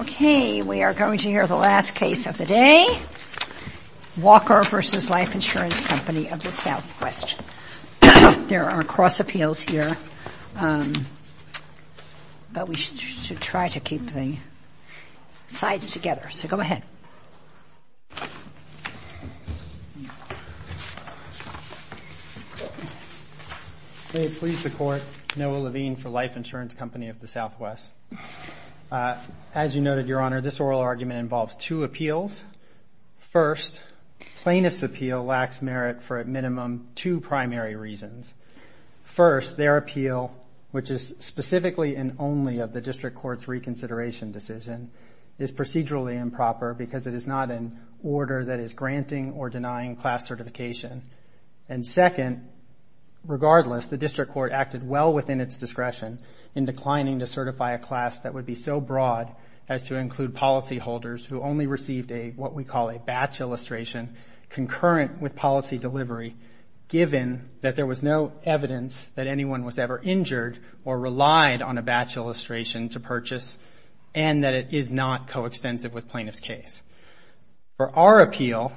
Okay, we are going to hear the last case of the day, Walker v. Life Ins. Co. of the SouthWest. There are cross appeals here, but we should try to keep the sides together, so go ahead. May it please the Court, Noah Levine v. Life Ins. Co. of the SouthWest. As you noted, Your Honor, this oral argument involves two appeals. First, plaintiff's appeal lacks merit for, at minimum, two primary reasons. First, their appeal, which is specifically and only of the District Court's reconsideration decision, is procedurally improper because it is not an order that is granting or denying class certification. And second, regardless, the District Court acted well within its discretion in declining to certify a class that would be so broad as to include policyholders who only received what we call a batch illustration concurrent with policy delivery, given that there was no evidence that anyone was ever injured or relied on a batch illustration to purchase and that it is not coextensive with plaintiff's case. For our appeal,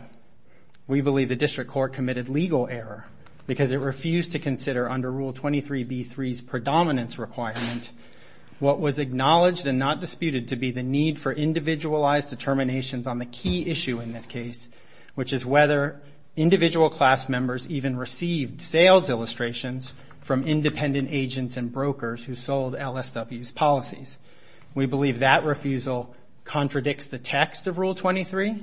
we believe the District Court committed legal error because it refused to consider under Rule 23b-3's predominance requirement what was acknowledged and not disputed to be the need for individualized determinations on the key issue in this case, which is whether individual class members even received sales illustrations from independent agents and brokers who sold LSW's policies. We believe that refusal contradicts the text of Rule 23,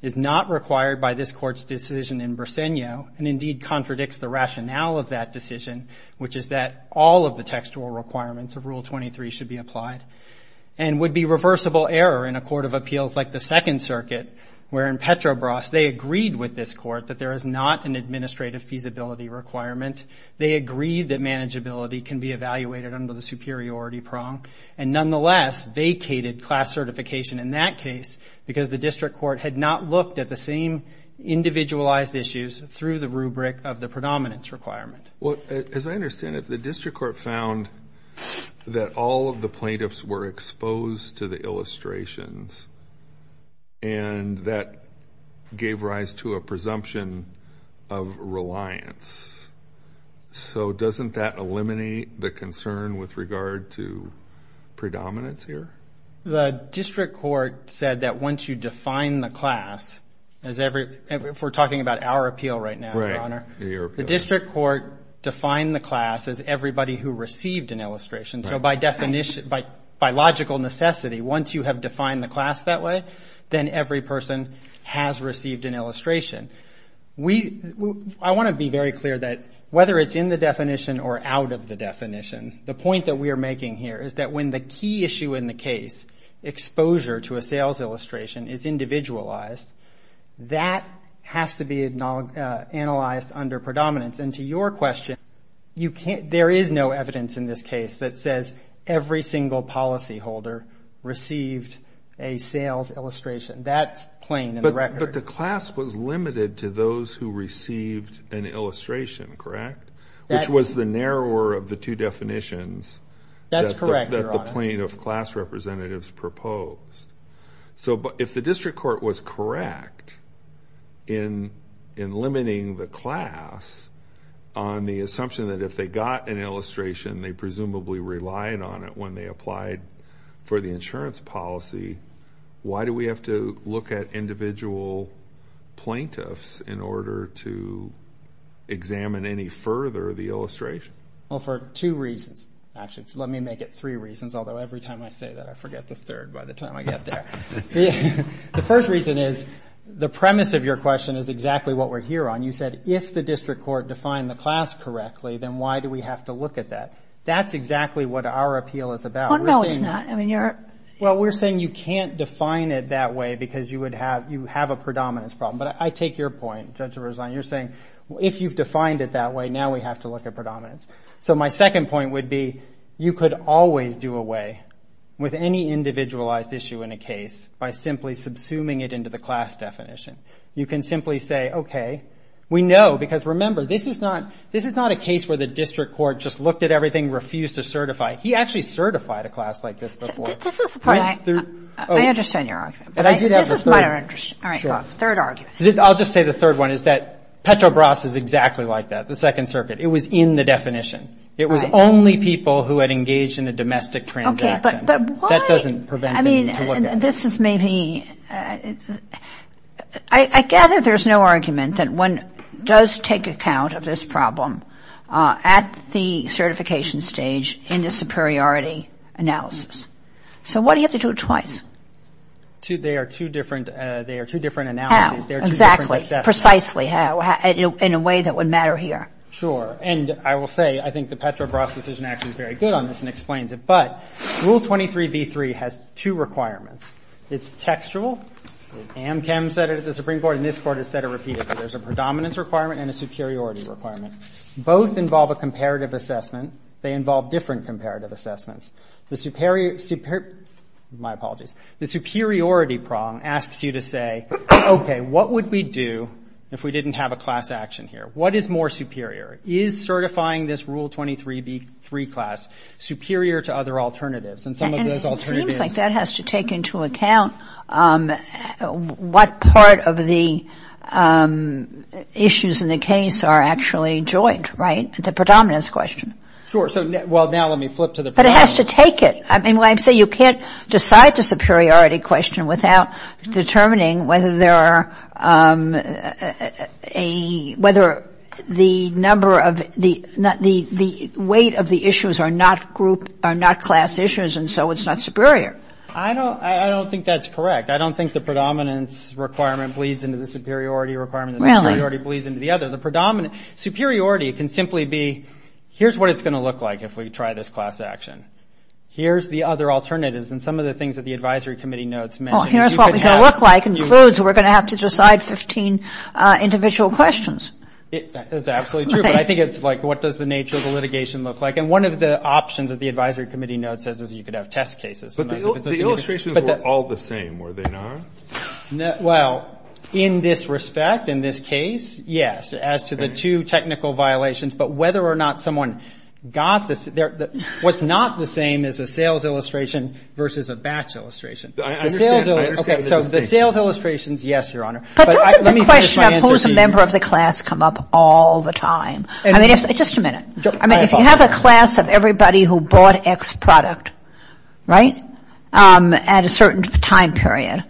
is not required by this Court's decision in Bresenio, and indeed contradicts the rationale of that decision, which is that all of the textual requirements of Rule 23 should be applied and would be reversible error in a court of appeals like the Second Circuit, where in Petrobras they agreed with this Court that there is not an administrative feasibility requirement. They agreed that manageability can be evaluated under the superiority prong and nonetheless vacated class certification in that case because the District Court had not looked at the same individualized issues through the rubric of the predominance requirement. Well, as I understand it, the District Court found that all of the plaintiffs were exposed to the illustrations and that gave rise to a presumption of reliance. So doesn't that eliminate the concern with regard to predominance here? The District Court said that once you define the class as every – if we're talking about our appeal right now, Your Honor, the District Court defined the class as everybody who received an illustration. So by definition, by logical necessity, once you have defined the class that way, then every person has received an illustration. I want to be very clear that whether it's in the definition or out of the definition, the point that we are making here is that when the key issue in the case, exposure to a sales illustration, is individualized, that has to be analyzed under predominance. And to your question, there is no evidence in this case that says every single policyholder received a sales illustration. That's plain in the record. But the class was limited to those who received an illustration, correct, which was the narrower of the two definitions that the plaintiff class representatives proposed. So if the District Court was correct in limiting the class on the assumption that if they got an illustration, they presumably relied on it when they applied for the insurance policy, why do we have to look at individual plaintiffs in order to examine any further the illustration? Well, for two reasons, actually. Let me make it three reasons, although every time I say that, I forget the third by the time I get there. The first reason is the premise of your question is exactly what we're here on. You said if the District Court defined the class correctly, then why do we have to look at that? That's exactly what our appeal is about. Oh, no, it's not. Well, we're saying you can't define it that way because you have a predominance problem. But I take your point, Judge Rosline. You're saying if you've defined it that way, now we have to look at predominance. So my second point would be you could always do away with any individualized issue in a case by simply subsuming it into the class definition. You can simply say, okay, we know because, remember, this is not a case where the District Court just looked at everything, refused to certify. He actually certified a class like this before. This is the point. I understand your argument. This is my understanding. All right, go on. Third argument. I'll just say the third one is that Petrobras is exactly like that, the Second Circuit. It was in the definition. It was only people who had engaged in a domestic transaction. Okay, but why? That doesn't prevent them to look at it. I mean, this is maybe – I gather there's no argument that one does take account of this problem at the certification stage in the superiority analysis. So why do you have to do it twice? They are two different analyses. How? Exactly. Precisely how? In a way that would matter here. Sure, and I will say I think the Petrobras decision actually is very good on this and explains it. But Rule 23b-3 has two requirements. It's textual. AmChem said it at the Supreme Court, and this Court has said it repeatedly. There's a predominance requirement and a superiority requirement. Both involve a comparative assessment. They involve different comparative assessments. The superior – my apologies – the superiority prong asks you to say, okay, what would we do if we didn't have a class action here? What is more superior? Is certifying this Rule 23b-3 class superior to other alternatives? And some of those alternatives – And it seems like that has to take into account what part of the issues in the case are actually joint, right? The predominance question. Sure. Well, now let me flip to the predominance. But it has to take it. Well, I'm saying you can't decide the superiority question without determining whether there are a – whether the number of – the weight of the issues are not group – are not class issues, and so it's not superior. I don't think that's correct. I don't think the predominance requirement bleeds into the superiority requirement. Really? The superiority bleeds into the other. The predominant – superiority can simply be here's what it's going to look like if we try this class action. Here's the other alternatives. And some of the things that the advisory committee notes mention – Well, here's what we're going to look like includes we're going to have to decide 15 individual questions. That's absolutely true. But I think it's like what does the nature of the litigation look like? And one of the options that the advisory committee note says is you could have test cases. But the illustrations were all the same, were they not? Well, in this respect, in this case, yes, as to the two technical violations. But whether or not someone got the – what's not the same is a sales illustration versus a batch illustration. I understand. Okay, so the sales illustrations, yes, Your Honor. But let me finish my answer to you. But don't set the question of who's a member of the class come up all the time. I mean, if – just a minute. I mean, if you have a class of everybody who bought X product, right, at a certain time period,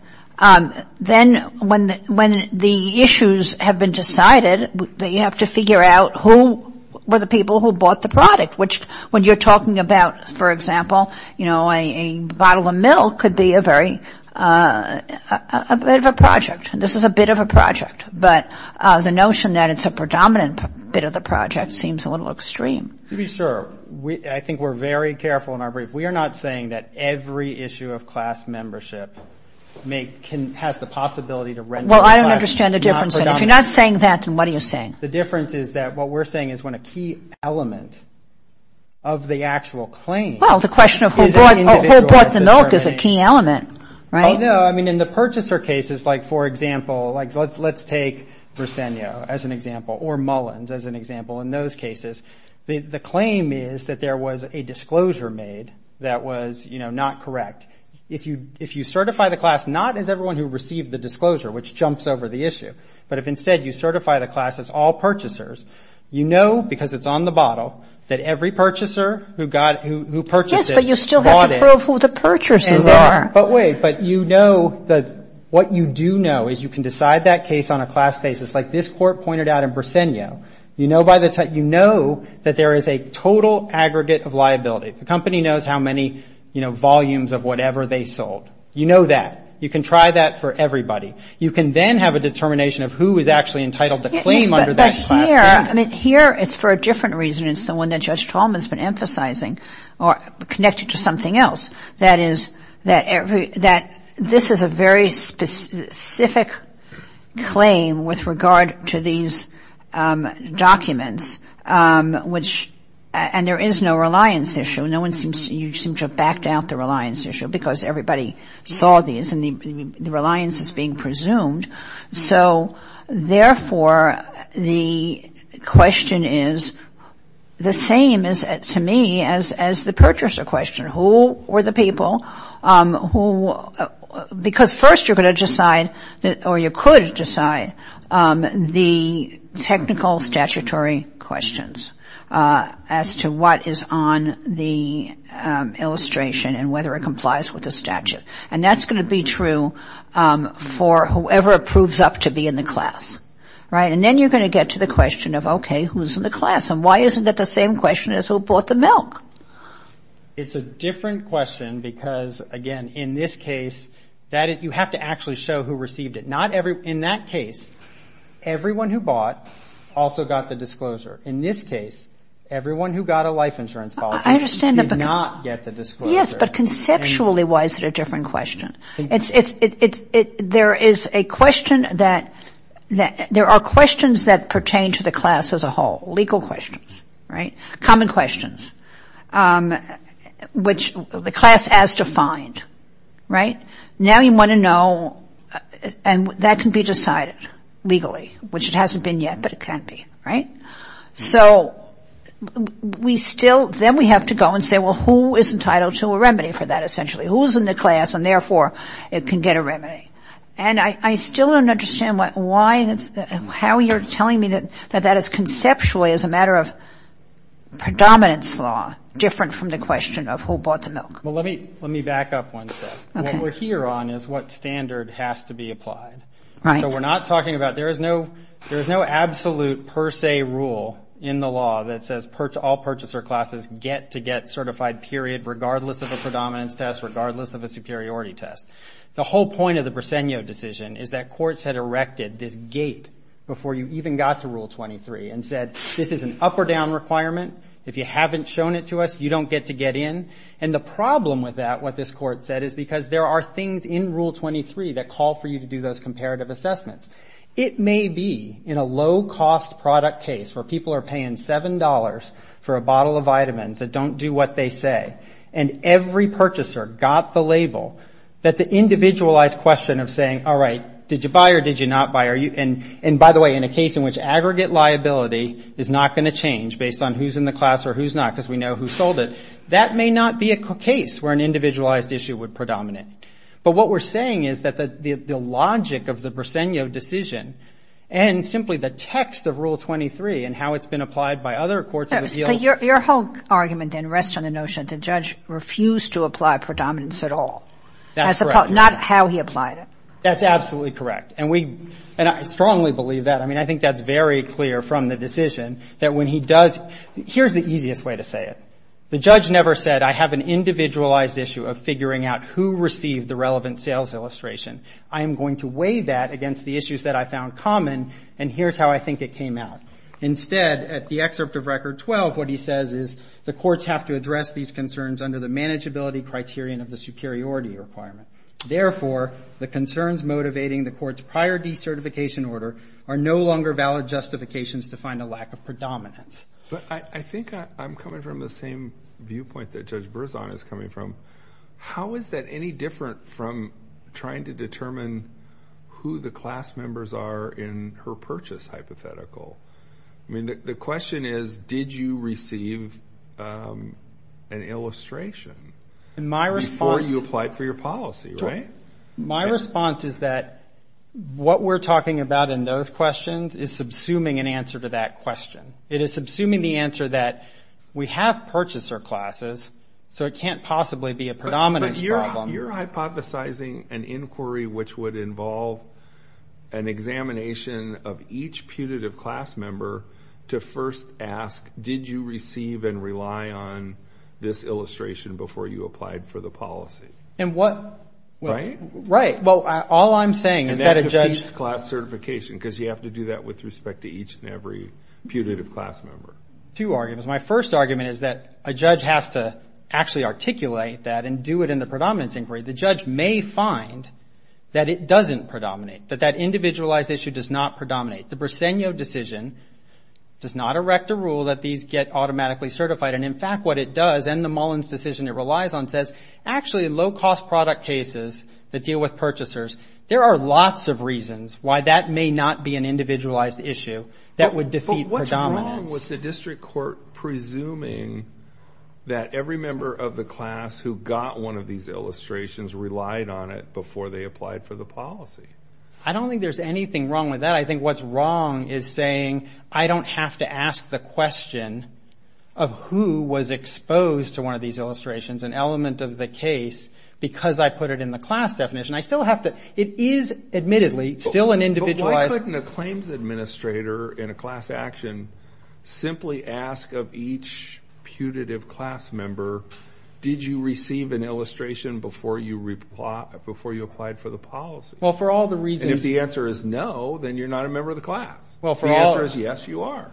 then when the issues have been decided, you have to figure out who were the people who bought the product, which when you're talking about, for example, you know, a bottle of milk could be a very – a bit of a project. This is a bit of a project. But the notion that it's a predominant bit of the project seems a little extreme. To be sure, I think we're very careful in our brief. We are not saying that every issue of class membership has the possibility to render the class not predominant. Well, I don't understand the difference. If you're not saying that, then what are you saying? The difference is that what we're saying is when a key element of the actual claim is an individual. Well, the question of who bought the milk is a key element, right? Oh, no. I mean, in the purchaser cases, like, for example, like let's take Bresenio as an example or Mullins as an example. In those cases, the claim is that there was a disclosure made that was, you know, not correct. If you certify the class not as everyone who received the disclosure, which jumps over the issue, but if instead you certify the class as all purchasers, you know because it's on the bottle that every purchaser who purchased it bought it. Yes, but you still have to prove who the purchasers are. But wait, but you know that what you do know is you can decide that case on a class basis, like this court pointed out in Bresenio. You know by the time you know that there is a total aggregate of liability. The company knows how many, you know, volumes of whatever they sold. You know that. You can try that for everybody. You can then have a determination of who is actually entitled to claim under that class. Yes, but here, I mean, here it's for a different reason. It's the one that Judge Tallman has been emphasizing or connected to something else. That this is a very specific claim with regard to these documents, which, and there is no reliance issue. No one seems to have backed out the reliance issue because everybody saw these and the reliance is being presumed. So, therefore, the question is the same to me as the purchaser question. Who were the people who, because first you're going to decide or you could decide the technical statutory questions as to what is on the illustration and whether it complies with the statute. And that's going to be true for whoever proves up to be in the class, right? And then you're going to get to the question of, okay, who's in the class? And why isn't that the same question as who bought the milk? It's a different question because, again, in this case, you have to actually show who received it. In that case, everyone who bought also got the disclosure. In this case, everyone who got a life insurance policy did not get the disclosure. Yes, but conceptually, why is it a different question? There is a question that, there are questions that pertain to the class as a whole, legal questions, right? Human questions, which the class has to find, right? Now you want to know, and that can be decided legally, which it hasn't been yet, but it can be, right? So we still, then we have to go and say, well, who is entitled to a remedy for that essentially? Who's in the class and, therefore, it can get a remedy? And I still don't understand why, how you're telling me that that is conceptually, as a matter of predominance law, different from the question of who bought the milk. Well, let me back up one step. Okay. What we're here on is what standard has to be applied. Right. So we're not talking about, there is no absolute per se rule in the law that says all purchaser classes get to get certified, period, regardless of a predominance test, regardless of a superiority test. The whole point of the Briseno decision is that courts had erected this gate before you even got to Rule 23 and said this is an up or down requirement. If you haven't shown it to us, you don't get to get in. And the problem with that, what this court said, is because there are things in Rule 23 that call for you to do those comparative assessments. It may be in a low-cost product case where people are paying $7 for a bottle of vitamins that don't do what they say, and every purchaser got the label, that the individualized question of saying, all right, did you buy or did you not buy, and by the way, in a case in which aggregate liability is not going to change based on who's in the class or who's not, because we know who sold it, that may not be a case where an individualized issue would predominate. But what we're saying is that the logic of the Briseno decision and simply the text of Rule 23 and how it's been applied by other courts of appeals. Your whole argument then rests on the notion the judge refused to apply predominance at all. That's correct. Not how he applied it. That's absolutely correct. And I strongly believe that. I mean, I think that's very clear from the decision that when he does — here's the easiest way to say it. The judge never said I have an individualized issue of figuring out who received the relevant sales illustration. I am going to weigh that against the issues that I found common, and here's how I think it came out. Instead, at the excerpt of Record 12, what he says is the courts have to address these concerns under the manageability criterion of the superiority requirement. Therefore, the concerns motivating the court's prior decertification order are no longer valid justifications to find a lack of predominance. But I think I'm coming from the same viewpoint that Judge Berzon is coming from. How is that any different from trying to determine who the class members are in her purchase hypothetical? I mean, the question is, did you receive an illustration before you applied for your policy, right? My response is that what we're talking about in those questions is subsuming an answer to that question. It is subsuming the answer that we have purchaser classes, so it can't possibly be a predominance problem. But you're hypothesizing an inquiry which would involve an examination of each putative class member to first ask, did you receive and rely on this illustration before you applied for the policy? And what — Right? Right. Well, all I'm saying is that a judge — Two arguments. My first argument is that a judge has to actually articulate that and do it in the predominance inquiry. The judge may find that it doesn't predominate, that that individualized issue does not predominate. The Briseno decision does not erect a rule that these get automatically certified. And, in fact, what it does, and the Mullins decision it relies on, says actually low-cost product cases that deal with purchasers, there are lots of reasons why that may not be an individualized issue that would defeat predominance. But what's wrong with the district court presuming that every member of the class who got one of these illustrations relied on it before they applied for the policy? I don't think there's anything wrong with that. I think what's wrong is saying I don't have to ask the question of who was exposed to one of these illustrations, an element of the case, because I put it in the class definition. I still have to — it is, admittedly, still an individualized — But why couldn't a claims administrator in a class action simply ask of each putative class member, did you receive an illustration before you applied for the policy? Well, for all the reasons — And if the answer is no, then you're not a member of the class. If the answer is yes, you are.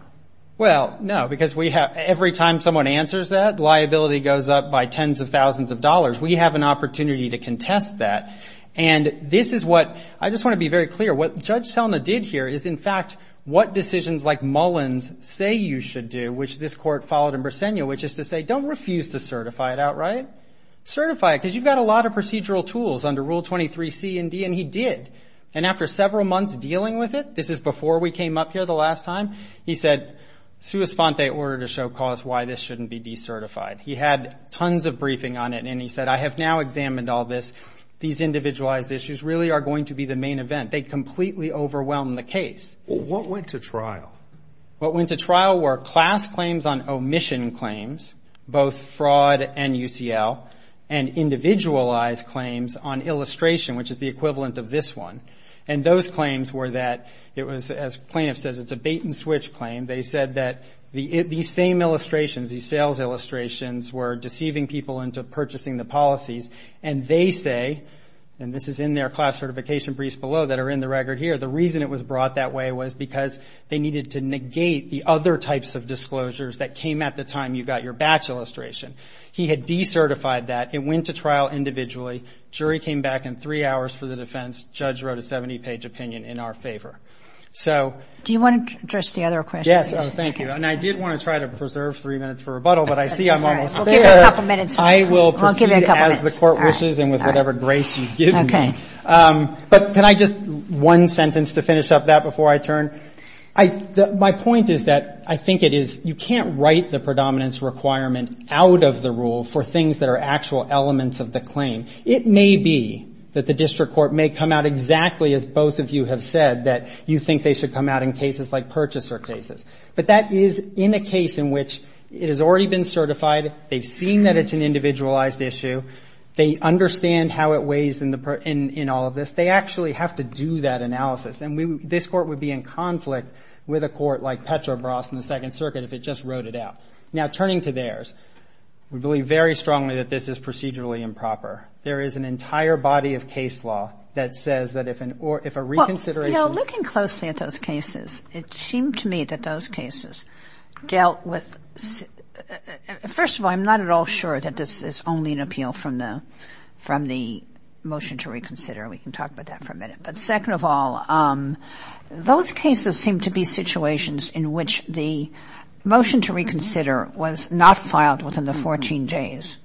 Well, no, because every time someone answers that, liability goes up by tens of thousands of dollars. We have an opportunity to contest that. And this is what — I just want to be very clear. What Judge Selma did here is, in fact, what decisions like Mullen's say you should do, which this court followed in Brasenia, which is to say don't refuse to certify it outright. Certify it, because you've got a lot of procedural tools under Rule 23C and D, and he did. And after several months dealing with it — this is before we came up here the last time — he said, sua sponte, order to show cause why this shouldn't be decertified. He had tons of briefing on it, and he said, I have now examined all this. These individualized issues really are going to be the main event. They completely overwhelmed the case. What went to trial? What went to trial were class claims on omission claims, both fraud and UCL, and individualized claims on illustration, which is the equivalent of this one. And those claims were that it was, as plaintiff says, it's a bait-and-switch claim. They said that these same illustrations, these sales illustrations, were deceiving people into purchasing the policies. And they say, and this is in their class certification briefs below that are in the record here, the reason it was brought that way was because they needed to negate the other types of disclosures that came at the time you got your batch illustration. He had decertified that. It went to trial individually. Jury came back in three hours for the defense. Judge wrote a 70-page opinion in our favor. So. Do you want to address the other questions? Yes. Oh, thank you. And I did want to try to preserve three minutes for rebuttal, but I see I'm almost there. We'll give you a couple minutes. I will proceed as the Court wishes and with whatever grace you give me. Okay. But can I just one sentence to finish up that before I turn? My point is that I think it is you can't write the predominance requirement out of the rule for things that are actual elements of the claim. It may be that the District Court may come out exactly as both of you have said, that you think they should come out in cases like purchaser cases. But that is in a case in which it has already been certified. They've seen that it's an individualized issue. They understand how it weighs in all of this. They actually have to do that analysis. And this Court would be in conflict with a court like Petrobras in the Second Circuit if it just wrote it out. Now, turning to theirs, we believe very strongly that this is procedurally improper. There is an entire body of case law that says that if a reconsideration. Well, you know, looking closely at those cases, it seemed to me that those cases dealt with, first of all, I'm not at all sure that this is only an appeal from the motion to reconsider. We can talk about that for a minute. But second of all, those cases seem to be situations in which the motion to reconsider was not filed within the 14 days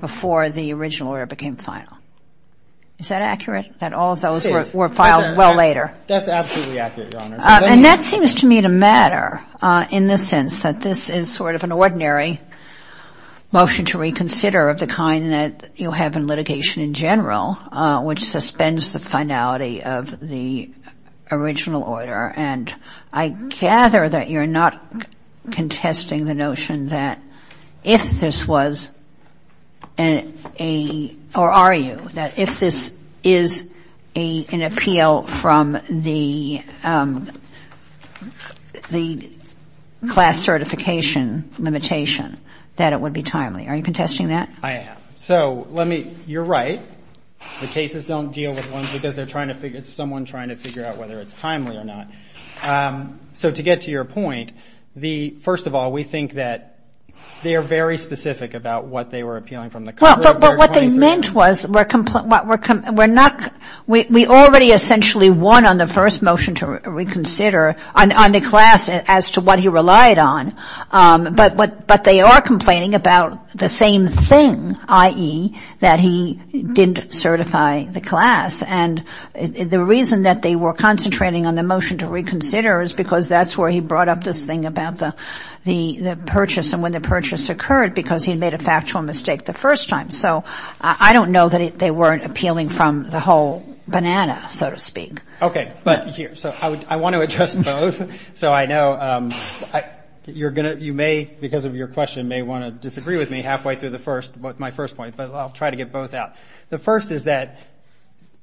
before the original order became final. Is that accurate, that all of those were filed well later? That's absolutely accurate, Your Honor. And that seems to me to matter in the sense that this is sort of an ordinary motion to reconsider of the kind that you have in litigation in general, which suspends the finality of the original order. And I gather that you're not contesting the notion that if this was a, or are you, that if this is an appeal from the class certification limitation, that it would be timely. Are you contesting that? I am. So let me, you're right. The cases don't deal with ones because they're trying to figure, it's someone trying to figure out whether it's timely or not. So to get to your point, the, first of all, we think that they are very specific about what they were appealing from the class. Well, but what they meant was we're not, we already essentially won on the first motion to reconsider on the class as to what he relied on. But they are complaining about the same thing, i.e., that he didn't certify the class. And the reason that they were concentrating on the motion to reconsider is because that's where he brought up this thing about the purchase and when the purchase occurred because he made a factual mistake the first time. So I don't know that they weren't appealing from the whole banana, so to speak. Okay. But here, so I want to address both. So I know you're going to, you may, because of your question, may want to disagree with me halfway through the first, my first point. But I'll try to get both out. The first is that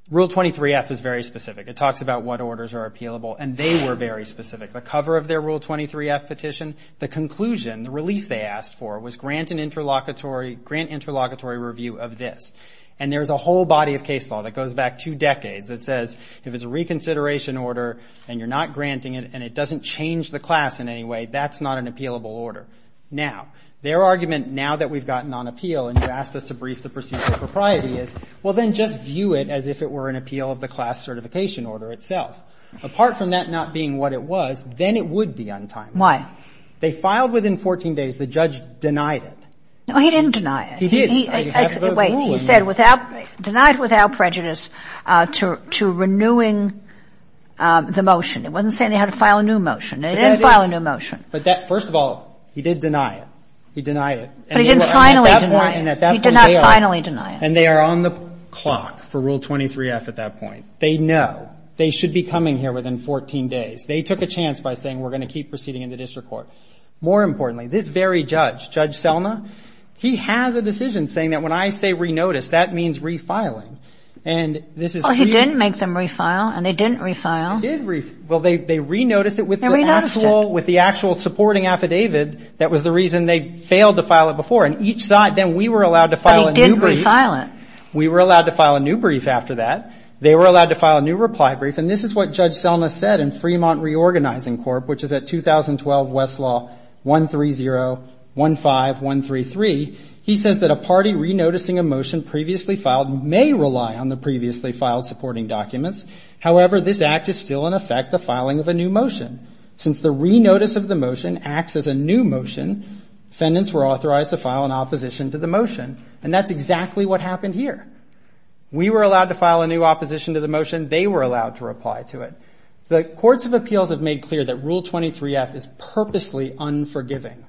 Rule 23-F is very specific. It talks about what orders are appealable. And they were very specific. The cover of their Rule 23-F petition, the conclusion, the relief they asked for, was grant an interlocutory, grant interlocutory review of this. And there's a whole body of case law that goes back two decades that says if it's a reconsideration order and you're not granting it and it doesn't change the class in any way, that's not an appealable order. Now, their argument now that we've gotten on appeal and you've asked us to brief the procedural propriety is, well, then just view it as if it were an appeal of the class certification order itself. Apart from that not being what it was, then it would be untimely. Why? They filed within 14 days. The judge denied it. No, he didn't deny it. He did. Wait. He said denied without prejudice to renewing the motion. It wasn't saying they had to file a new motion. They didn't file a new motion. But that, first of all, he did deny it. He denied it. But he didn't finally deny it. He did not finally deny it. And they are on the clock for Rule 23-F at that point. They know. They should be coming here within 14 days. They took a chance by saying we're going to keep proceeding in the district court. More importantly, this very judge, Judge Selma, he has a decision saying that when I say re-notice, that means refiling. And this is really ñ Well, he didn't make them re-file, and they didn't re-file. They did re-file. Well, they re-noticed it with the actual supporting affidavit that was the reason they failed to file it before. And each side, then we were allowed to file a new brief. But he didn't re-file it. We were allowed to file a new brief after that. They were allowed to file a new reply brief. And this is what Judge Selma said in Fremont Reorganizing Corp., which is at 2012 Westlaw 13015133. He says that a party re-noticing a motion previously filed may rely on the previously filed supporting documents. However, this act is still in effect the filing of a new motion. Since the re-notice of the motion acts as a new motion, defendants were authorized to file an opposition to the motion. And that's exactly what happened here. We were allowed to file a new opposition to the motion. They were allowed to reply to it. The courts of appeals have made clear that Rule 23-F is purposely unforgiving.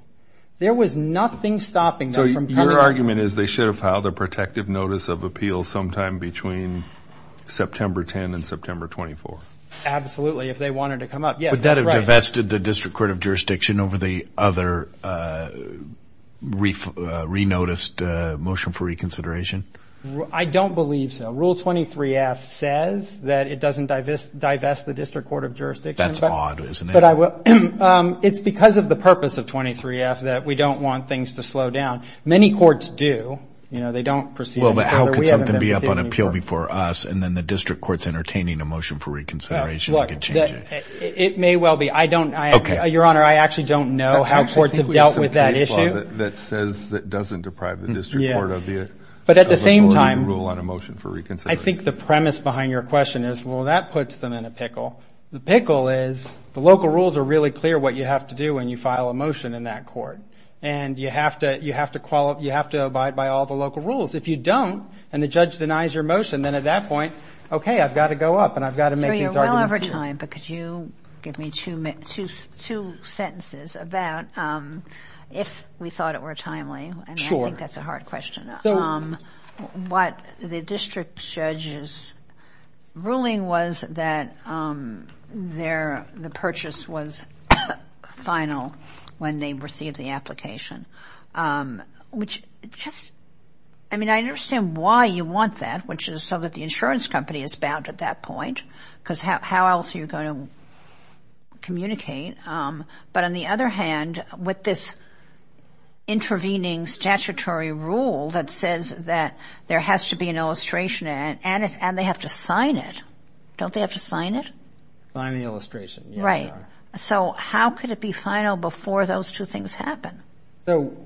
There was nothing stopping them from coming up. So your argument is they should have filed a protective notice of appeal sometime between September 10 and September 24? Absolutely, if they wanted to come up. Yes, that's right. Would that have divested the District Court of Jurisdiction over the other re-noticed motion for reconsideration? I don't believe so. Rule 23-F says that it doesn't divest the District Court of Jurisdiction. That's odd, isn't it? It's because of the purpose of 23-F that we don't want things to slow down. Many courts do. You know, they don't proceed any further. Well, but how could something be up on appeal before us, and then the District Court's entertaining a motion for reconsideration and could change it? It may well be. Your Honor, I actually don't know how courts have dealt with that issue. I think we have some case law that says that doesn't deprive the District But at the same time, I think the premise behind your question is, well, that puts them in a pickle. The pickle is the local rules are really clear what you have to do when you file a motion in that court, and you have to abide by all the local rules. If you don't and the judge denies your motion, then at that point, okay, I've got to go up and I've got to make these arguments here. Your Honor, we're well over time, but could you give me two sentences about if we thought it were timely? Sure. I think that's a hard question. What the district judge's ruling was that the purchase was final when they received the application, which just, I mean, I understand why you want that, which is so that the insurance company is bound at that point, because how else are you going to communicate? But on the other hand, with this intervening statutory rule that says that there has to be an illustration and they have to sign it, don't they have to sign it? Sign the illustration, yes, Your Honor. Right. So how could it be final before those two things happen? So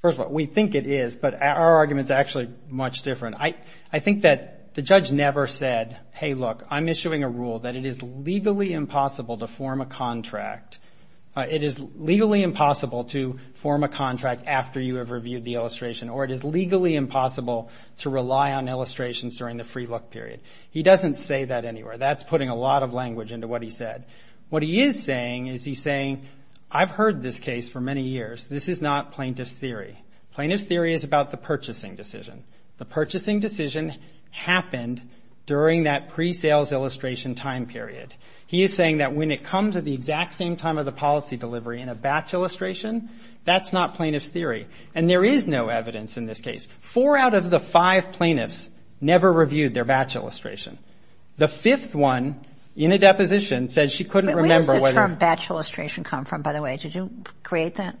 first of all, we think it is, but our argument's actually much different. I think that the judge never said, hey, look, I'm issuing a rule that it is legally impossible to form a contract. It is legally impossible to form a contract after you have reviewed the illustration, or it is legally impossible to rely on illustrations during the free look period. He doesn't say that anywhere. That's putting a lot of language into what he said. What he is saying is he's saying, I've heard this case for many years. This is not plaintiff's theory. Plaintiff's theory is about the purchasing decision. The purchasing decision happened during that pre-sales illustration time period. He is saying that when it comes at the exact same time of the policy delivery in a batch illustration, that's not plaintiff's theory. And there is no evidence in this case. Four out of the five plaintiffs never reviewed their batch illustration. The fifth one, in a deposition, said she couldn't remember whether the ---- Where does the term batch illustration come from, by the way? Did you create that?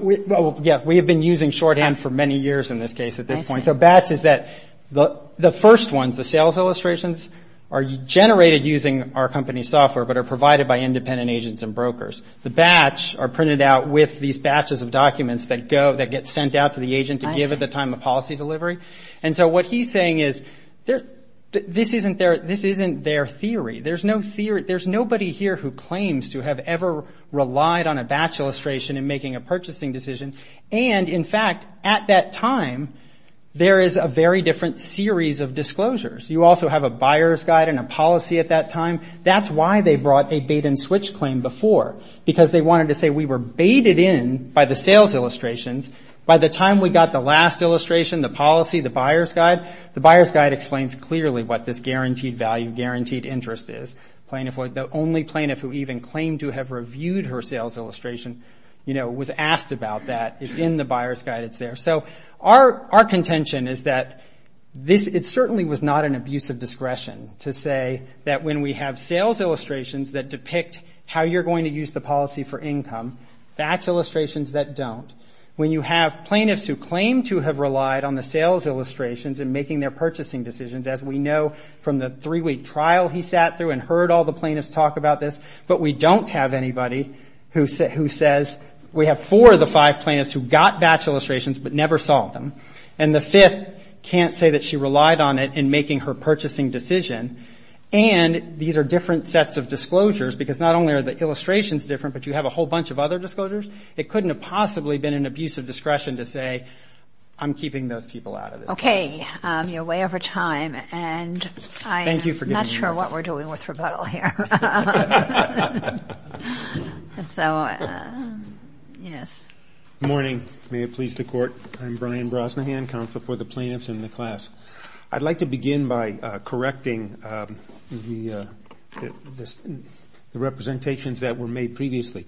We have been using shorthand for many years in this case at this point. So batch is that the first ones, the sales illustrations, are generated using our company's software but are provided by independent agents and brokers. The batch are printed out with these batches of documents that get sent out to the agent to give at the time of policy delivery. And so what he is saying is this isn't their theory. There is nobody here who claims to have ever relied on a batch illustration in making a purchasing decision. And, in fact, at that time, there is a very different series of disclosures. You also have a buyer's guide and a policy at that time. That's why they brought a bait-and-switch claim before, because they wanted to say we were baited in by the sales illustrations. By the time we got the last illustration, the policy, the buyer's guide, the buyer's guide explains clearly what this guaranteed value, guaranteed interest is. The only plaintiff who even claimed to have reviewed her sales illustration was asked about that. It's in the buyer's guide. It's there. So our contention is that it certainly was not an abuse of discretion to say that when we have sales illustrations that depict how you're going to use the policy for income, that's illustrations that don't. When you have plaintiffs who claim to have relied on the sales illustrations in making their purchasing decisions, as we know from the three-week trial he sat through and heard all the plaintiffs talk about this, but we don't have anybody who says we have four of the five plaintiffs who got batch illustrations but never saw them, and the fifth can't say that she relied on it in making her purchasing decision. And these are different sets of disclosures, because not only are the illustrations different, but you have a whole bunch of other disclosures. It couldn't have possibly been an abuse of discretion to say I'm keeping those people out of this case. Okay. You're way over time, and I'm not sure what we're doing with rebuttal here. Good morning. May it please the Court. I'm Brian Brosnahan, Counsel for the Plaintiffs in the class. I'd like to begin by correcting the representations that were made previously.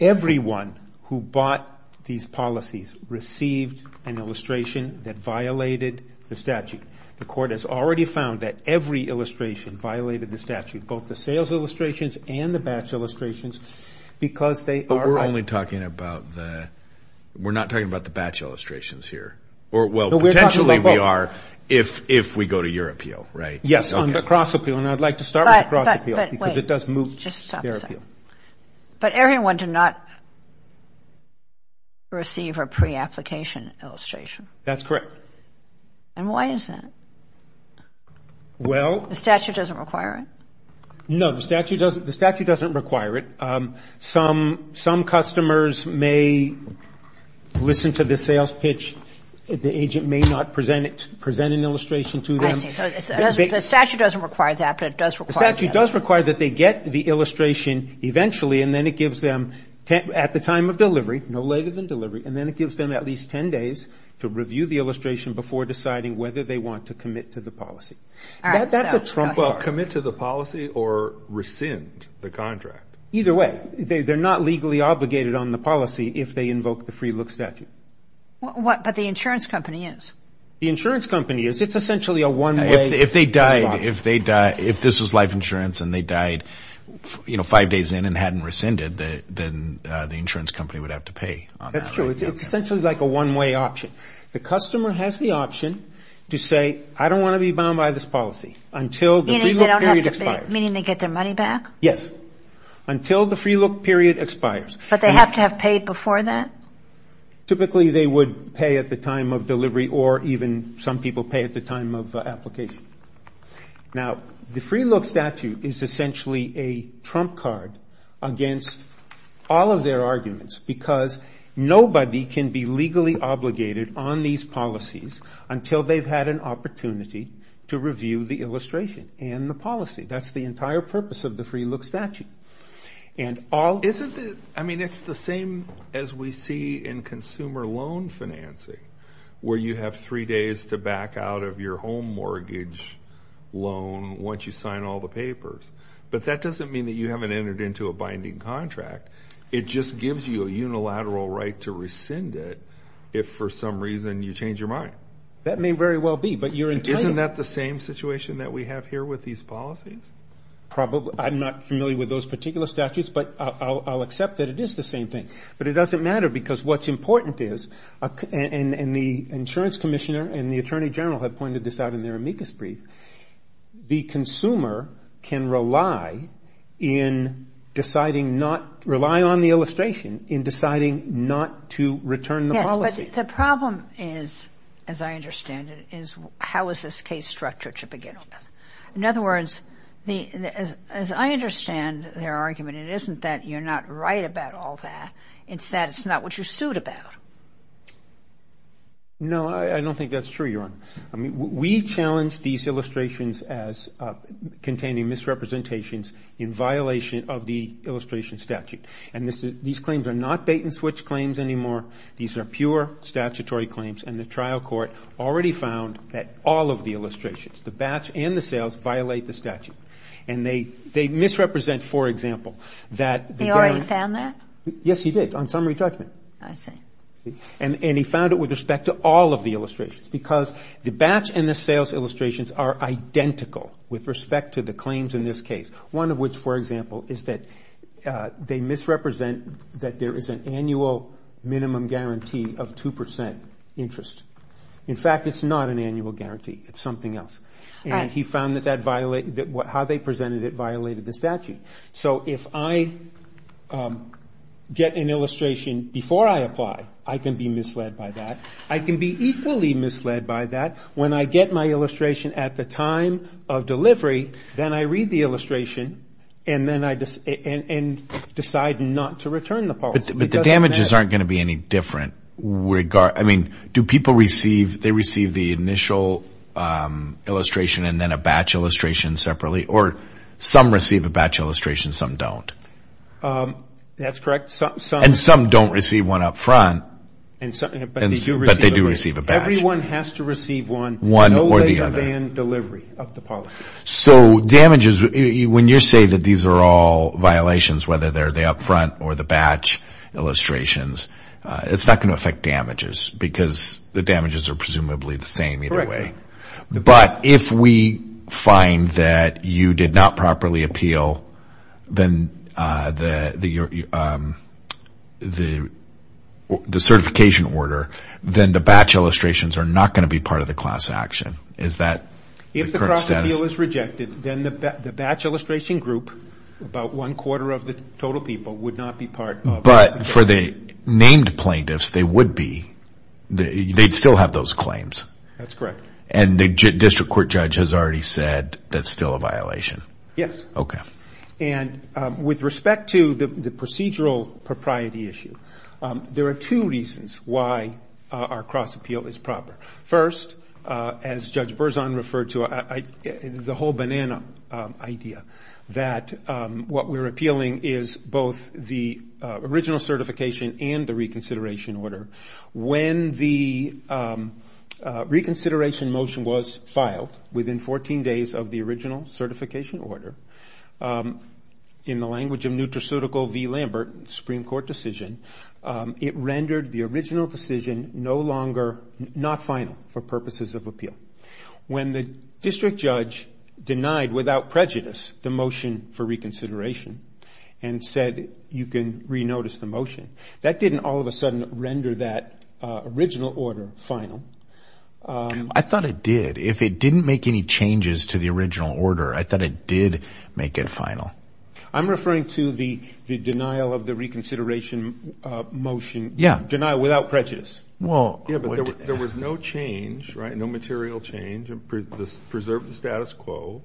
Everyone who bought these policies received an illustration that violated the statute. The Court has already found that every illustration violated the statute, both the sales illustrations and the batch illustrations, because they are right. But we're only talking about the – we're not talking about the batch illustrations here. Well, potentially we are if we go to your appeal, right? Yes, on the cross appeal, and I'd like to start with the cross appeal, because it does move to their appeal. But everyone did not receive a pre-application illustration. That's correct. And why is that? Well – The statute doesn't require it? No, the statute doesn't require it. Some customers may listen to the sales pitch. The agent may not present an illustration to them. I see. So the statute doesn't require that, but it does require that. The statute does require that they get the illustration eventually, and then it gives them at the time of delivery, no later than delivery, and then it gives them at least 10 days to review the illustration before deciding whether they want to commit to the policy. All right. That's a trumper. Well, commit to the policy or rescind the contract. Either way, they're not legally obligated on the policy if they invoke the free look statute. But the insurance company is. The insurance company is. It's essentially a one-way dialogue. If this was life insurance and they died five days in and hadn't rescinded, then the insurance company would have to pay on that. That's true. It's essentially like a one-way option. The customer has the option to say, I don't want to be bound by this policy until the free look period expires. Meaning they get their money back? Yes, until the free look period expires. But they have to have paid before that? Typically, they would pay at the time of delivery or even some people pay at the time of application. Now, the free look statute is essentially a trump card against all of their arguments because nobody can be legally obligated on these policies until they've had an opportunity to review the illustration and the policy. That's the entire purpose of the free look statute. Isn't it? I mean, it's the same as we see in consumer loan financing where you have three days to back out of your home mortgage loan once you sign all the papers. But that doesn't mean that you haven't entered into a binding contract. It just gives you a unilateral right to rescind it if for some reason you change your mind. That may very well be. Isn't that the same situation that we have here with these policies? I'm not familiar with those particular statutes, but I'll accept that it is the same thing. But it doesn't matter because what's important is, and the insurance commissioner and the attorney general have pointed this out in their amicus brief, the consumer can rely on the illustration in deciding not to return the policy. Yes, but the problem is, as I understand it, is how is this case structured to begin with? In other words, as I understand their argument, it isn't that you're not right about all that. It's that it's not what you sued about. No, I don't think that's true, Your Honor. I mean, we challenge these illustrations as containing misrepresentations in violation of the illustration statute. And these claims are not bait-and-switch claims anymore. These are pure statutory claims, and the trial court already found that all of the illustrations, the batch and the sales, violate the statute. And they misrepresent, for example, that the guarantee. They already found that? Yes, you did, on summary judgment. I see. And he found it with respect to all of the illustrations because the batch and the sales illustrations are identical with respect to the claims in this case, one of which, for example, is that they misrepresent that there is an annual minimum guarantee of 2% interest. In fact, it's not an annual guarantee. It's something else. And he found that how they presented it violated the statute. So if I get an illustration before I apply, I can be misled by that. I can be equally misled by that when I get my illustration at the time of delivery, then I read the illustration and decide not to return the policy. But the damages aren't going to be any different. Do people receive the initial illustration and then a batch illustration separately? Or some receive a batch illustration, some don't? That's correct. And some don't receive one up front, but they do receive a batch. Everyone has to receive one, no later than delivery of the policy. So damages, when you say that these are all violations, whether they're the up front or the batch illustrations, it's not going to affect damages because the damages are presumably the same either way. Correct. But if we find that you did not properly appeal the certification order, then the batch illustrations are not going to be part of the class action. Is that the correct status? If the appeal is rejected, then the batch illustration group, about one-quarter of the total people would not be part of it. But for the named plaintiffs, they would be. They'd still have those claims. That's correct. And the district court judge has already said that's still a violation. Yes. Okay. And with respect to the procedural propriety issue, there are two reasons why our cross appeal is proper. First, as Judge Berzon referred to, the whole banana idea, that what we're appealing is both the original certification and the reconsideration order. When the reconsideration motion was filed within 14 days of the original certification order, in the language of nutraceutical v. Lambert, Supreme Court decision, it rendered the original decision no longer not final for purposes of appeal. When the district judge denied without prejudice the motion for reconsideration and said you can re-notice the motion, that didn't all of a sudden render that original order final. I thought it did. If it didn't make any changes to the original order, I thought it did make it final. I'm referring to the denial of the reconsideration motion. Yeah. Denial without prejudice. Yeah, but there was no change, right, no material change. It preserved the status quo.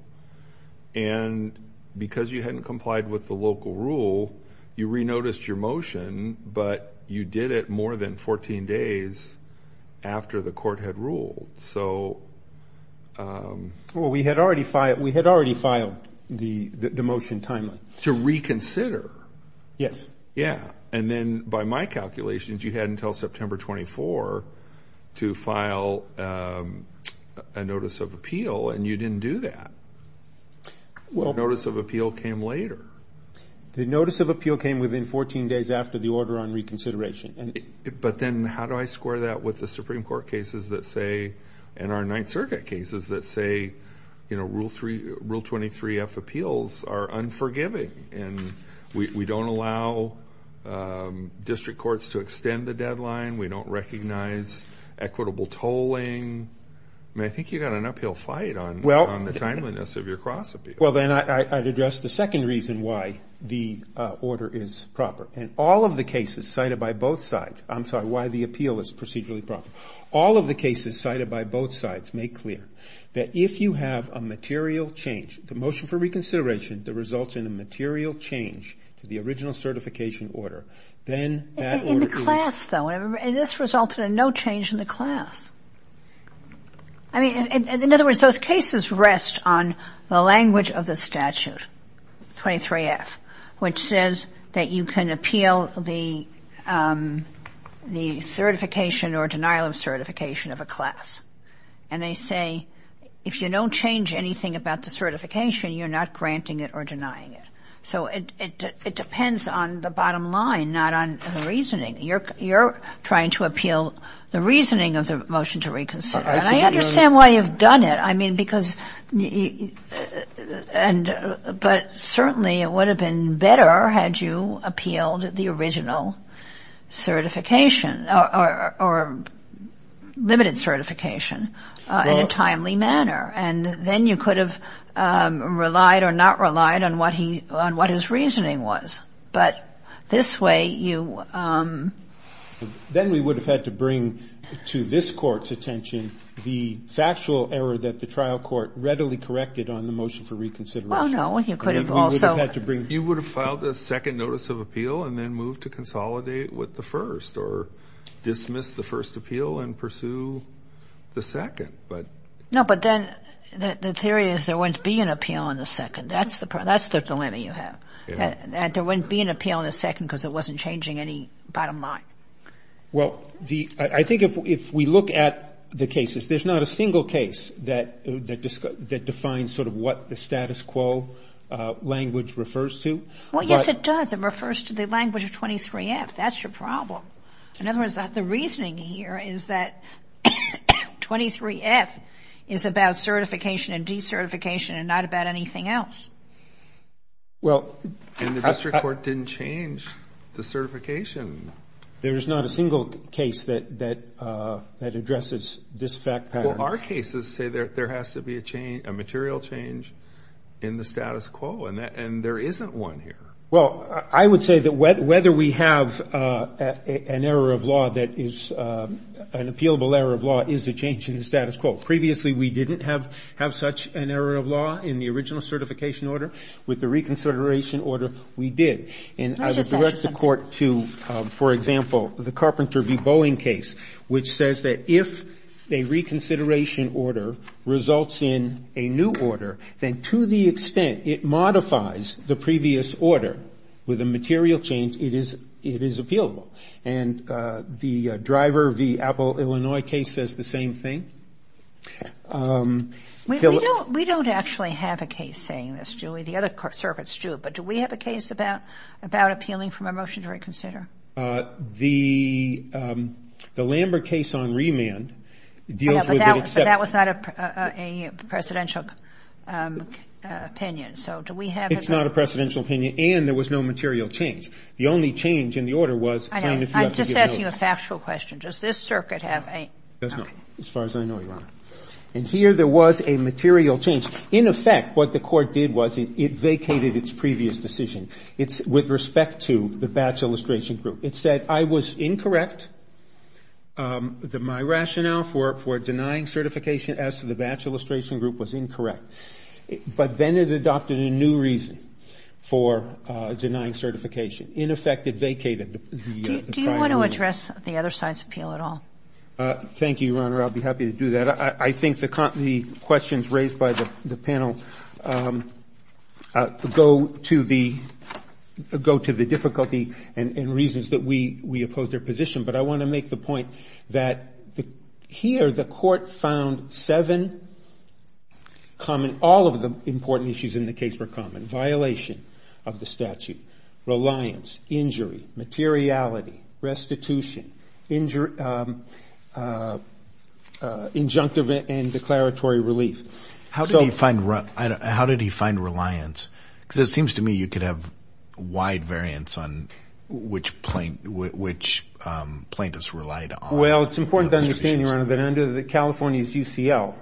And because you hadn't complied with the local rule, you re-noticed your motion, Well, we had already filed the motion timely. To reconsider. Yes. Yeah, and then by my calculations, you had until September 24 to file a notice of appeal, and you didn't do that. The notice of appeal came later. The notice of appeal came within 14 days after the order on reconsideration. But then how do I square that with the Supreme Court cases that say, and our Ninth Circuit cases that say, you know, Rule 23F appeals are unforgiving, and we don't allow district courts to extend the deadline, we don't recognize equitable tolling. I mean, I think you've got an uphill fight on the timeliness of your cross appeal. Well, then I'd address the second reason why the order is proper. And all of the cases cited by both sides, I'm sorry, why the appeal is procedurally proper. All of the cases cited by both sides make clear that if you have a material change, the motion for reconsideration that results in a material change to the original certification order, then that order is. In the class, though, and this resulted in no change in the class. I mean, in other words, those cases rest on the language of the statute, 23F, which says that you can appeal the certification or denial of certification of a class. And they say if you don't change anything about the certification, you're not granting it or denying it. So it depends on the bottom line, not on the reasoning. You're trying to appeal the reasoning of the motion to reconsider. And I understand why you've done it. I mean, because and but certainly it would have been better had you appealed the original certification or limited certification in a timely manner. And then you could have relied or not relied on what he on what his reasoning was. But this way you. Then we would have had to bring to this court's attention the factual error that the trial court readily corrected on the motion for reconsideration. Well, no, you could have also. You would have filed a second notice of appeal and then moved to consolidate with the first or dismiss the first appeal and pursue the second. But no, but then the theory is there wouldn't be an appeal on the second. That's the problem. That's the dilemma you have. There wouldn't be an appeal in a second because it wasn't changing any bottom line. Well, I think if we look at the cases, there's not a single case that defines sort of what the status quo language refers to. Well, yes, it does. It refers to the language of 23F. That's your problem. In other words, the reasoning here is that 23F is about certification and decertification and not about anything else. And the district court didn't change the certification. There is not a single case that addresses this fact pattern. Well, our cases say there has to be a material change in the status quo, and there isn't one here. Well, I would say that whether we have an error of law that is an appealable error of law is a change in the status quo. Previously, we didn't have such an error of law in the original certification order. With the reconsideration order, we did. And I would direct the Court to, for example, the Carpenter v. Boeing case, which says that if a reconsideration order results in a new order, then to the extent it modifies the previous order with a material change, it is appealable. And the Driver v. Apple, Illinois case says the same thing. We don't actually have a case saying this, Julie. The other circuits do. But do we have a case about appealing from a motion to reconsider? The Lambert case on remand deals with it. But that was not a presidential opinion. So do we have it? It's not a presidential opinion, and there was no material change. The only change in the order was if you have to give notice. I'm just asking you a factual question. Does this circuit have a? It does not, as far as I know, Your Honor. And here there was a material change. In effect, what the Court did was it vacated its previous decision. It's with respect to the Batch Illustration Group. It said I was incorrect. My rationale for denying certification as to the Batch Illustration Group was incorrect. But then it adopted a new reason for denying certification. In effect, it vacated the prior rule. Do you want to address the other side's appeal at all? Thank you, Your Honor. I'll be happy to do that. I think the questions raised by the panel go to the difficulty and reasons that we opposed their position. But I want to make the point that here the Court found seven common ‑‑ all of the important issues in the case were common. violation of the statute, reliance, injury, materiality, restitution, injunctive and declaratory relief. How did he find reliance? Because it seems to me you could have wide variance on which plaintiffs relied on. Well, it's important to understand, Your Honor, that under California's UCL,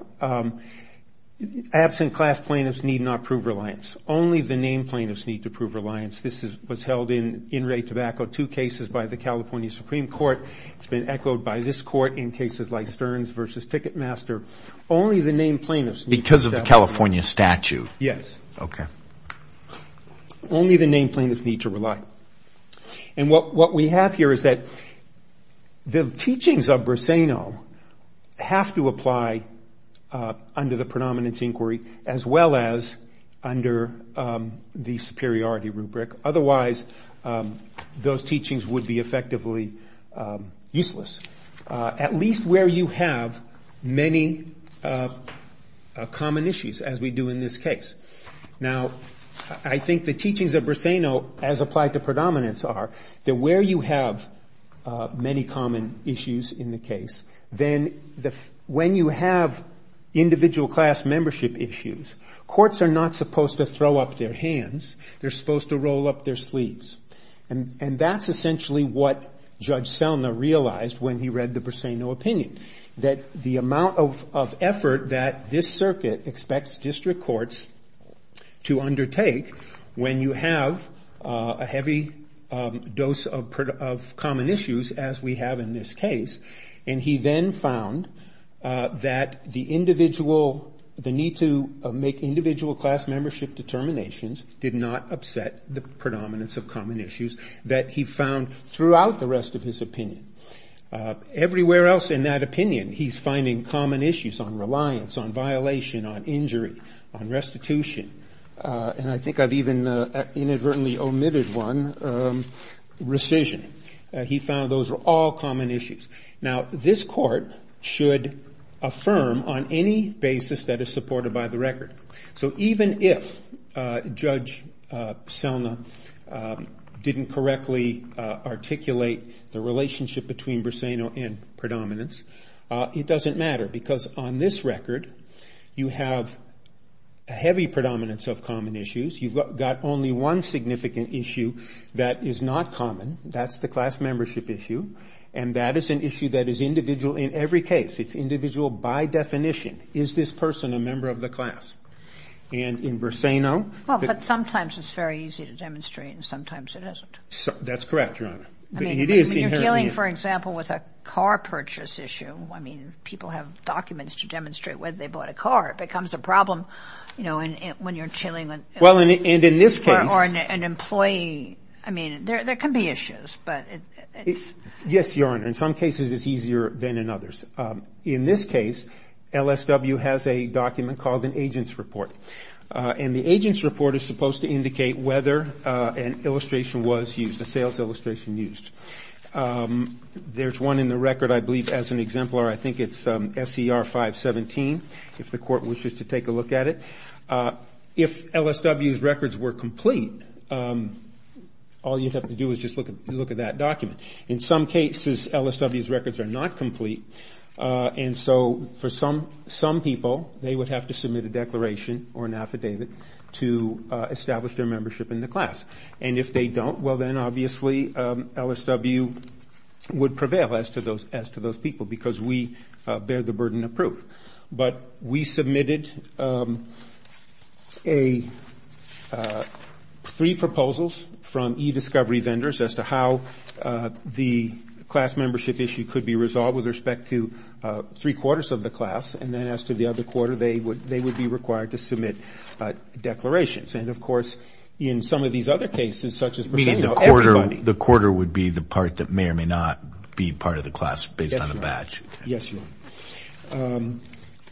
absent class plaintiffs need not prove reliance. Only the named plaintiffs need to prove reliance. This was held in In Ray Tobacco, two cases by the California Supreme Court. It's been echoed by this Court in cases like Stearns v. Ticketmaster. Only the named plaintiffs need to prove reliance. Because of the California statute? Yes. Okay. Only the named plaintiffs need to rely. And what we have here is that the teachings of Briseyno have to apply under the predominance inquiry as well as under the superiority rubric. Otherwise, those teachings would be effectively useless. At least where you have many common issues, as we do in this case. Now, I think the teachings of Briseyno, as applied to predominance, are that where you have many common issues in the case, then when you have individual class membership issues, courts are not supposed to throw up their hands. They're supposed to roll up their sleeves. And that's essentially what Judge Selna realized when he read the Briseyno opinion. That the amount of effort that this circuit expects district courts to undertake when you have a heavy dose of common issues, as we have in this case, and he then found that the need to make individual class membership determinations did not upset the predominance of common issues that he found throughout the rest of his opinion. Everywhere else in that opinion, he's finding common issues on reliance, on violation, on injury, on restitution. And I think I've even inadvertently omitted one, rescission. He found those were all common issues. Now, this court should affirm on any basis that is supported by the record. So even if Judge Selna didn't correctly articulate the relationship between Briseyno and predominance, it doesn't matter because on this record, you have a heavy predominance of common issues. You've got only one significant issue that is not common. That's the class membership issue. And that is an issue that is individual in every case. It's individual by definition. Is this person a member of the class? And in Briseyno... Well, but sometimes it's very easy to demonstrate and sometimes it isn't. That's correct, Your Honor. I mean, you're dealing, for example, with a car purchase issue. I mean, people have documents to demonstrate whether they bought a car. It becomes a problem, you know, when you're dealing with... Well, and in this case... Or an employee. I mean, there can be issues, but... Yes, Your Honor. In some cases it's easier than in others. In this case, LSW has a document called an agent's report. And the agent's report is supposed to indicate whether an illustration was used, a sales illustration used. There's one in the record, I believe, as an exemplar. I think it's SCR 517, if the court wishes to take a look at it. If LSW's records were complete, all you'd have to do is just look at that document. In some cases, LSW's records are not complete. And so for some people, they would have to submit a declaration or an affidavit to establish their membership in the class. And if they don't, well, then obviously LSW would prevail as to those people because we bear the burden of proof. But we submitted three proposals from e-discovery vendors as to how the class membership issue could be resolved with respect to three quarters of the class. And then as to the other quarter, they would be required to submit declarations. And, of course, in some of these other cases, such as... Meaning the quarter would be the part that may or may not be part of the class based on the badge. Yes, Your Honor.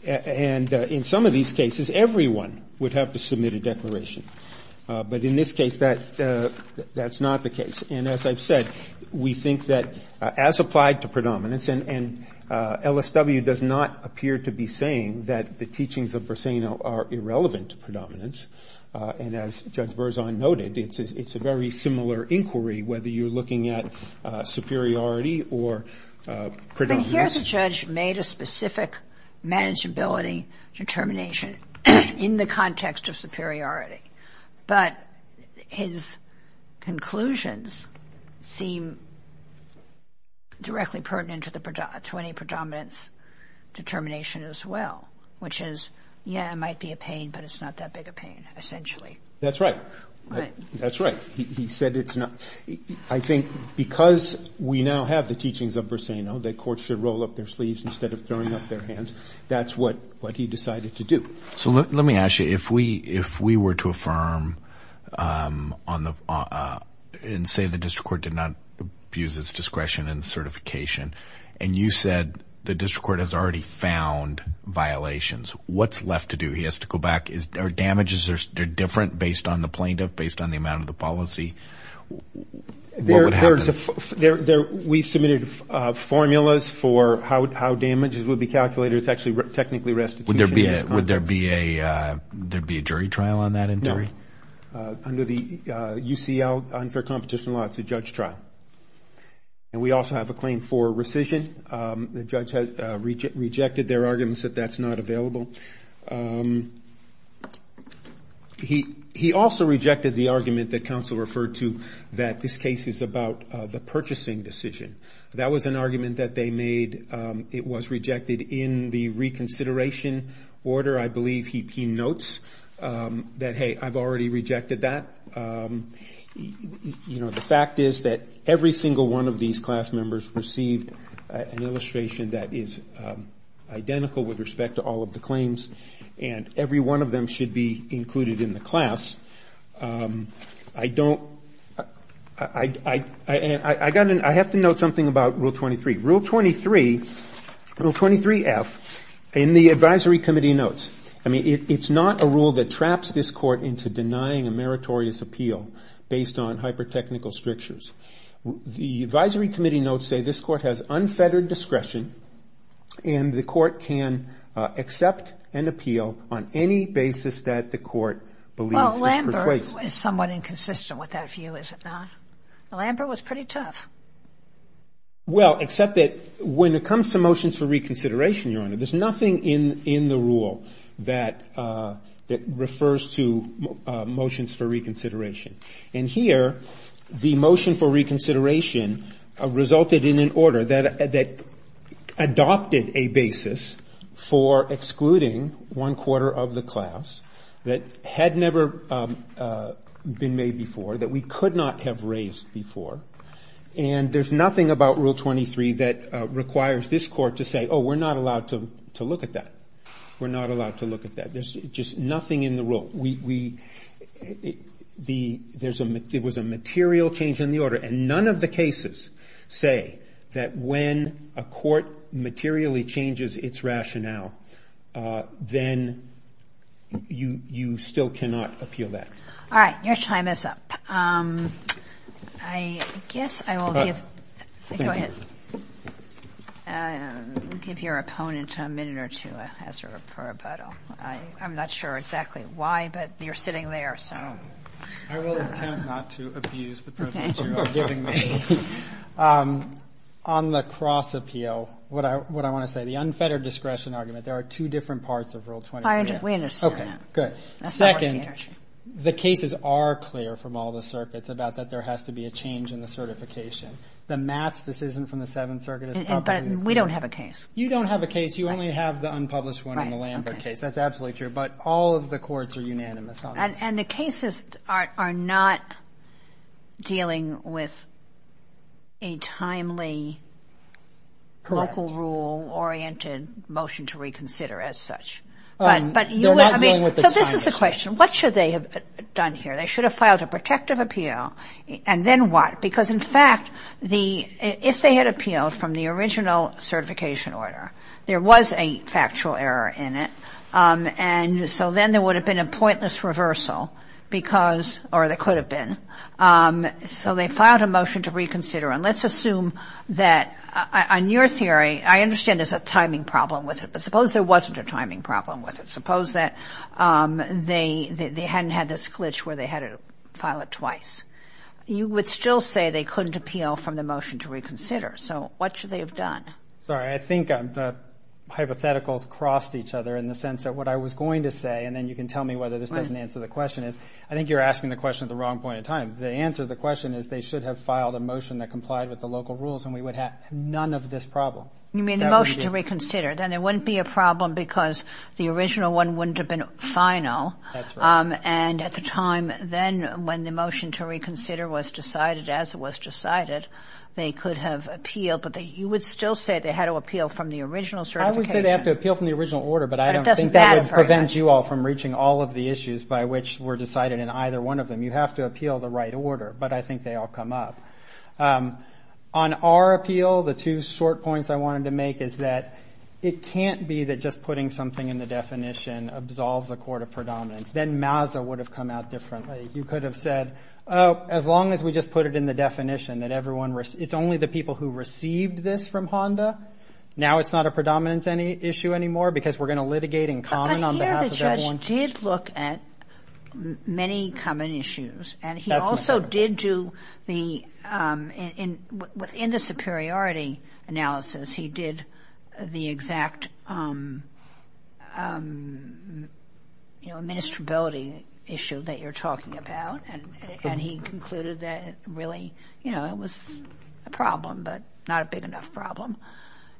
And in some of these cases, everyone would have to submit a declaration. But in this case, that's not the case. And as I've said, we think that as applied to predominance, and LSW does not appear to be saying that the teachings of Bursino are irrelevant to predominance. And as Judge Berzon noted, it's a very similar inquiry, whether you're looking at superiority or predominance. But here the judge made a specific manageability determination in the context of superiority. But his conclusions seem directly pertinent to any predominance determination as well, which is, yeah, it might be a pain, but it's not that big a pain, essentially. That's right. Right. That's right. He said it's not. I think because we now have the teachings of Bursino that courts should roll up their sleeves instead of throwing up their hands, that's what he decided to do. So let me ask you. If we were to affirm and say the district court did not abuse its discretion in certification, and you said the district court has already found violations, what's left to do? He has to go back. Are damages different based on the plaintiff, based on the amount of the policy? What would happen? We submitted formulas for how damages would be calculated. It's actually technically restitution. Would there be a jury trial on that inquiry? No. Under the UCL unfair competition law, it's a judge trial. And we also have a claim for rescission. The judge rejected their arguments that that's not available. He also rejected the argument that counsel referred to that this case is about the purchasing decision. That was an argument that they made. It was rejected in the reconsideration order. I believe he notes that, hey, I've already rejected that. The fact is that every single one of these class members received an illustration that is identical with respect to all of the claims, and every one of them should be included in the class. I don't ‑‑ I have to note something about Rule 23. Rule 23, Rule 23F, in the advisory committee notes, I mean, it's not a rule that traps this court into denying a meritorious appeal based on hypertechnical strictures. The advisory committee notes say this court has unfettered discretion and the court can accept and appeal on any basis that the court believes is persuasive. Well, Lambert was somewhat inconsistent with that view, is it not? Lambert was pretty tough. Well, except that when it comes to motions for reconsideration, Your Honor, there's nothing in the rule. that refers to motions for reconsideration. And here, the motion for reconsideration resulted in an order that adopted a basis for excluding one quarter of the class that had never been made before, that we could not have raised before. And there's nothing about Rule 23 that requires this court to say, oh, we're not allowed to look at that. We're not allowed to look at that. There's just nothing in the rule. There was a material change in the order, and none of the cases say that when a court materially changes its rationale, then you still cannot appeal that. All right, your time is up. I guess I will give your opponent a minute or two as a rebuttal. I'm not sure exactly why, but you're sitting there, so. I will attempt not to abuse the privilege you are giving me. On the cross appeal, what I want to say, the unfettered discretion argument, there are two different parts of Rule 23. We understand that. Okay, good. Second, the cases are clear from all the circuits about that there has to be a change in the certification. The Matz decision from the Seventh Circuit is public. But we don't have a case. You don't have a case. You only have the unpublished one in the Lambert case. That's absolutely true. But all of the courts are unanimous on this. And the cases are not dealing with a timely local rule-oriented motion to reconsider as such. So this is the question. What should they have done here? They should have filed a protective appeal. And then what? Because, in fact, if they had appealed from the original certification order, there was a factual error in it. And so then there would have been a pointless reversal, or there could have been. So they filed a motion to reconsider. And let's assume that on your theory, I understand there's a timing problem with it. But suppose there wasn't a timing problem with it. Suppose that they hadn't had this glitch where they had to file it twice. You would still say they couldn't appeal from the motion to reconsider. So what should they have done? Sorry, I think the hypotheticals crossed each other in the sense that what I was going to say, and then you can tell me whether this doesn't answer the question, is I think you're asking the question at the wrong point in time. The answer to the question is they should have filed a motion that complied with the local rules, and we would have none of this problem. You mean the motion to reconsider. Then there wouldn't be a problem because the original one wouldn't have been final. That's right. And at the time then when the motion to reconsider was decided as it was decided, they could have appealed, but you would still say they had to appeal from the original certification. I would say they have to appeal from the original order, but I don't think that would prevent you all from reaching all of the issues by which were decided in either one of them. You have to appeal the right order, but I think they all come up. On our appeal, the two short points I wanted to make is that it can't be that just putting something in the definition absolves a court of predominance. Then MASA would have come out differently. You could have said, oh, as long as we just put it in the definition that everyone, it's only the people who received this from HONDA, now it's not a predominance issue anymore because we're going to litigate in common on behalf of everyone. The judge did look at many common issues, and he also did do the, in the superiority analysis, he did the exact, you know, administrability issue that you're talking about, and he concluded that it really, you know, it was a problem, but not a big enough problem.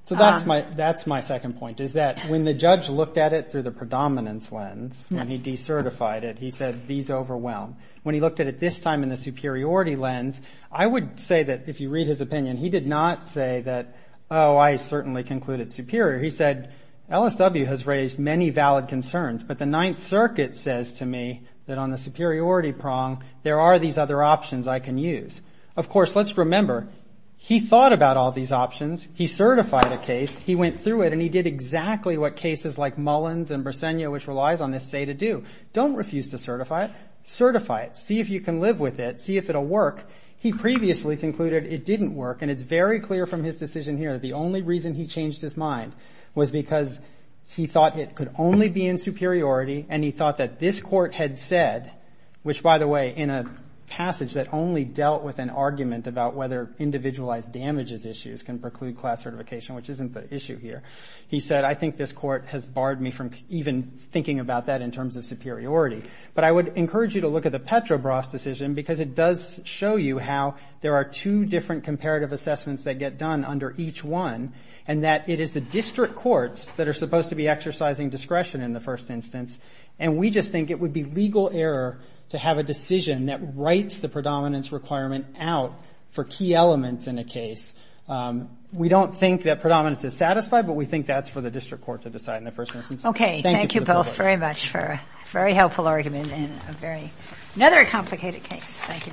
So that's my second point, is that when the judge looked at it through the predominance lens, when he decertified it, he said, these overwhelm. When he looked at it this time in the superiority lens, I would say that if you read his opinion, he did not say that, oh, I certainly concluded superior. He said, LSW has raised many valid concerns, but the Ninth Circuit says to me that on the superiority prong, there are these other options I can use. Of course, let's remember, he thought about all these options, he certified a case, he went through it, and he did exactly what cases like Mullins and Brasenia, which relies on this say to do. Don't refuse to certify it. Certify it. See if you can live with it. See if it'll work. He previously concluded it didn't work, and it's very clear from his decision here that the only reason he changed his mind was because he thought it could only be in superiority, and he thought that this court had said, which, by the way, in a passage that only dealt with an argument about whether individualized damages issues can preclude class certification, which isn't the issue here, he said, I think this court has barred me from even thinking about that in terms of superiority, but I would encourage you to look at the Petrobras decision because it does show you how there are two different comparative assessments that get done under each one and that it is the district courts that are supposed to be exercising discretion in the first instance, and we just think it would be legal error to have a decision that writes the predominance requirement out for key elements in a case. We don't think that predominance is satisfied, but we think that's for the district court to decide in the first instance. Okay. Thank you both very much for a very helpful argument in another complicated case. Thank you very much.